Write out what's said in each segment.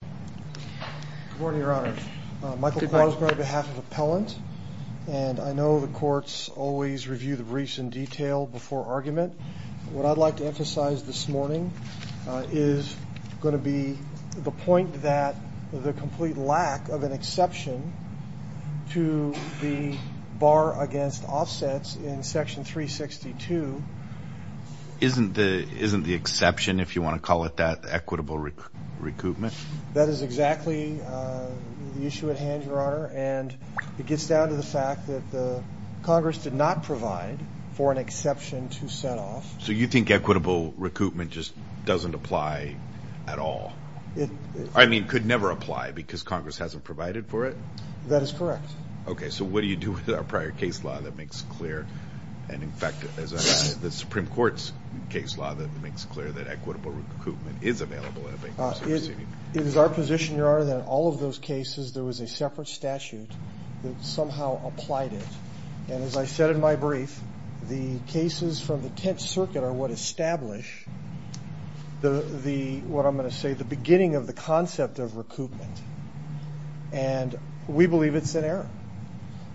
Good morning, Your Honor. Michael Quarles on behalf of Appellant, and I know the courts always review the briefs in detail before argument. What I'd like to emphasize this morning is going to be the point that the complete lack of an exception to the bar against offsets in Section 362 Isn't the exception, if you want to call it that, equitable recoupment? That is exactly the issue at hand, Your Honor, and it gets down to the fact that Congress did not provide for an exception to set off So you think equitable recoupment just doesn't apply at all? I mean, could never apply because Congress hasn't provided for it? That is correct. Okay, so what do you do with our prior case law that makes clear, and in fact, the Supreme Court's case law that makes clear that equitable recoupment is available? It is our position, Your Honor, that in all of those cases there was a separate statute that somehow applied it. And as I said in my brief, the cases from the Tenth Circuit are what establish the, what I'm going to say, the beginning of the concept of recoupment. And we believe it's an error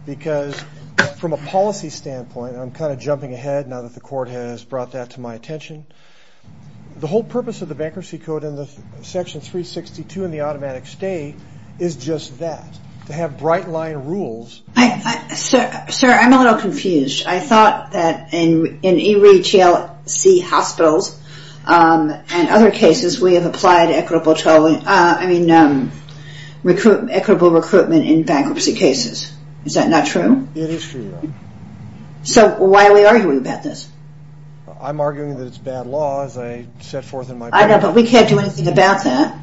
because from a policy standpoint, I'm kind of jumping ahead now that the court has brought that to my attention. The whole purpose of the Bankruptcy Code and the Section 362 and the automatic stay is just that, to have bright line rules. Sir, I'm a little confused. I thought that in ERE TLC hospitals and other cases we have applied equitable recoupment in bankruptcy cases. Is that not true? It is true, Your Honor. So why are we arguing about this? I'm arguing that it's bad law as I set forth in my brief. I don't know, but we can't do anything about that.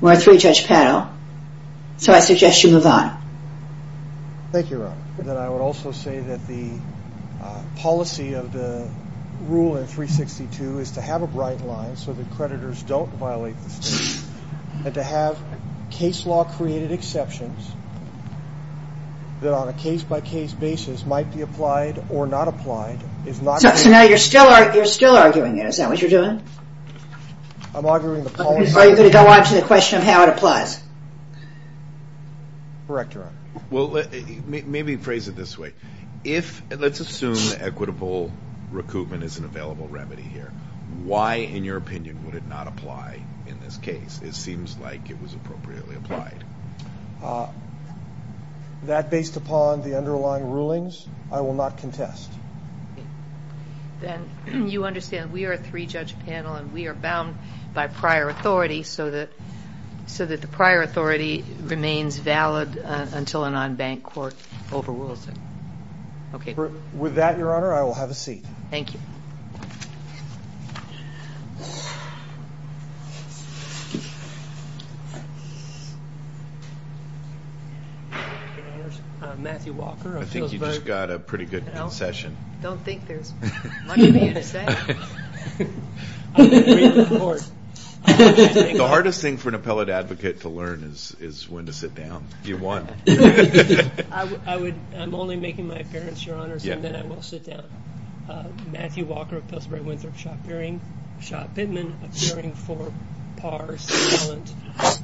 We're a three-judge panel. So I suggest you move on. Thank you, Your Honor. And then I would also say that the policy of the rule in 362 is to have a bright line so that creditors don't violate the statute. And to have case law created exceptions that on a case-by-case basis might be applied or not applied is not good. So now you're still arguing it. Is that what you're doing? I'm arguing the policy. Are you going to go on to the question of how it applies? Correct, Your Honor. Well, maybe phrase it this way. Let's assume equitable recoupment is an available remedy here. Why, in your opinion, would it not apply in this case? It seems like it was appropriately applied. That, based upon the underlying rulings, I will not contest. Then you understand we are a three-judge panel and we are bound by prior authority so that the prior authority remains valid until a non-bank court overrules it. With that, Your Honor, I will have a seat. Thank you. Your Honors, Matthew Walker of Pillsbury. I think you just got a pretty good concession. I don't think there's much for me to say. I would agree with the Court. The hardest thing for an appellate advocate to learn is when to sit down. You won. I'm only making my appearance, Your Honors, and then I will sit down. Matthew Walker of Pillsbury-Winthrop, Shot Pittman, appearing for par silent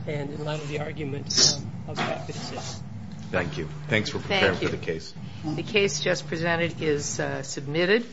and in light of the arguments of Shot Pittman. Thank you. Thanks for preparing for the case. The case just presented is submitted.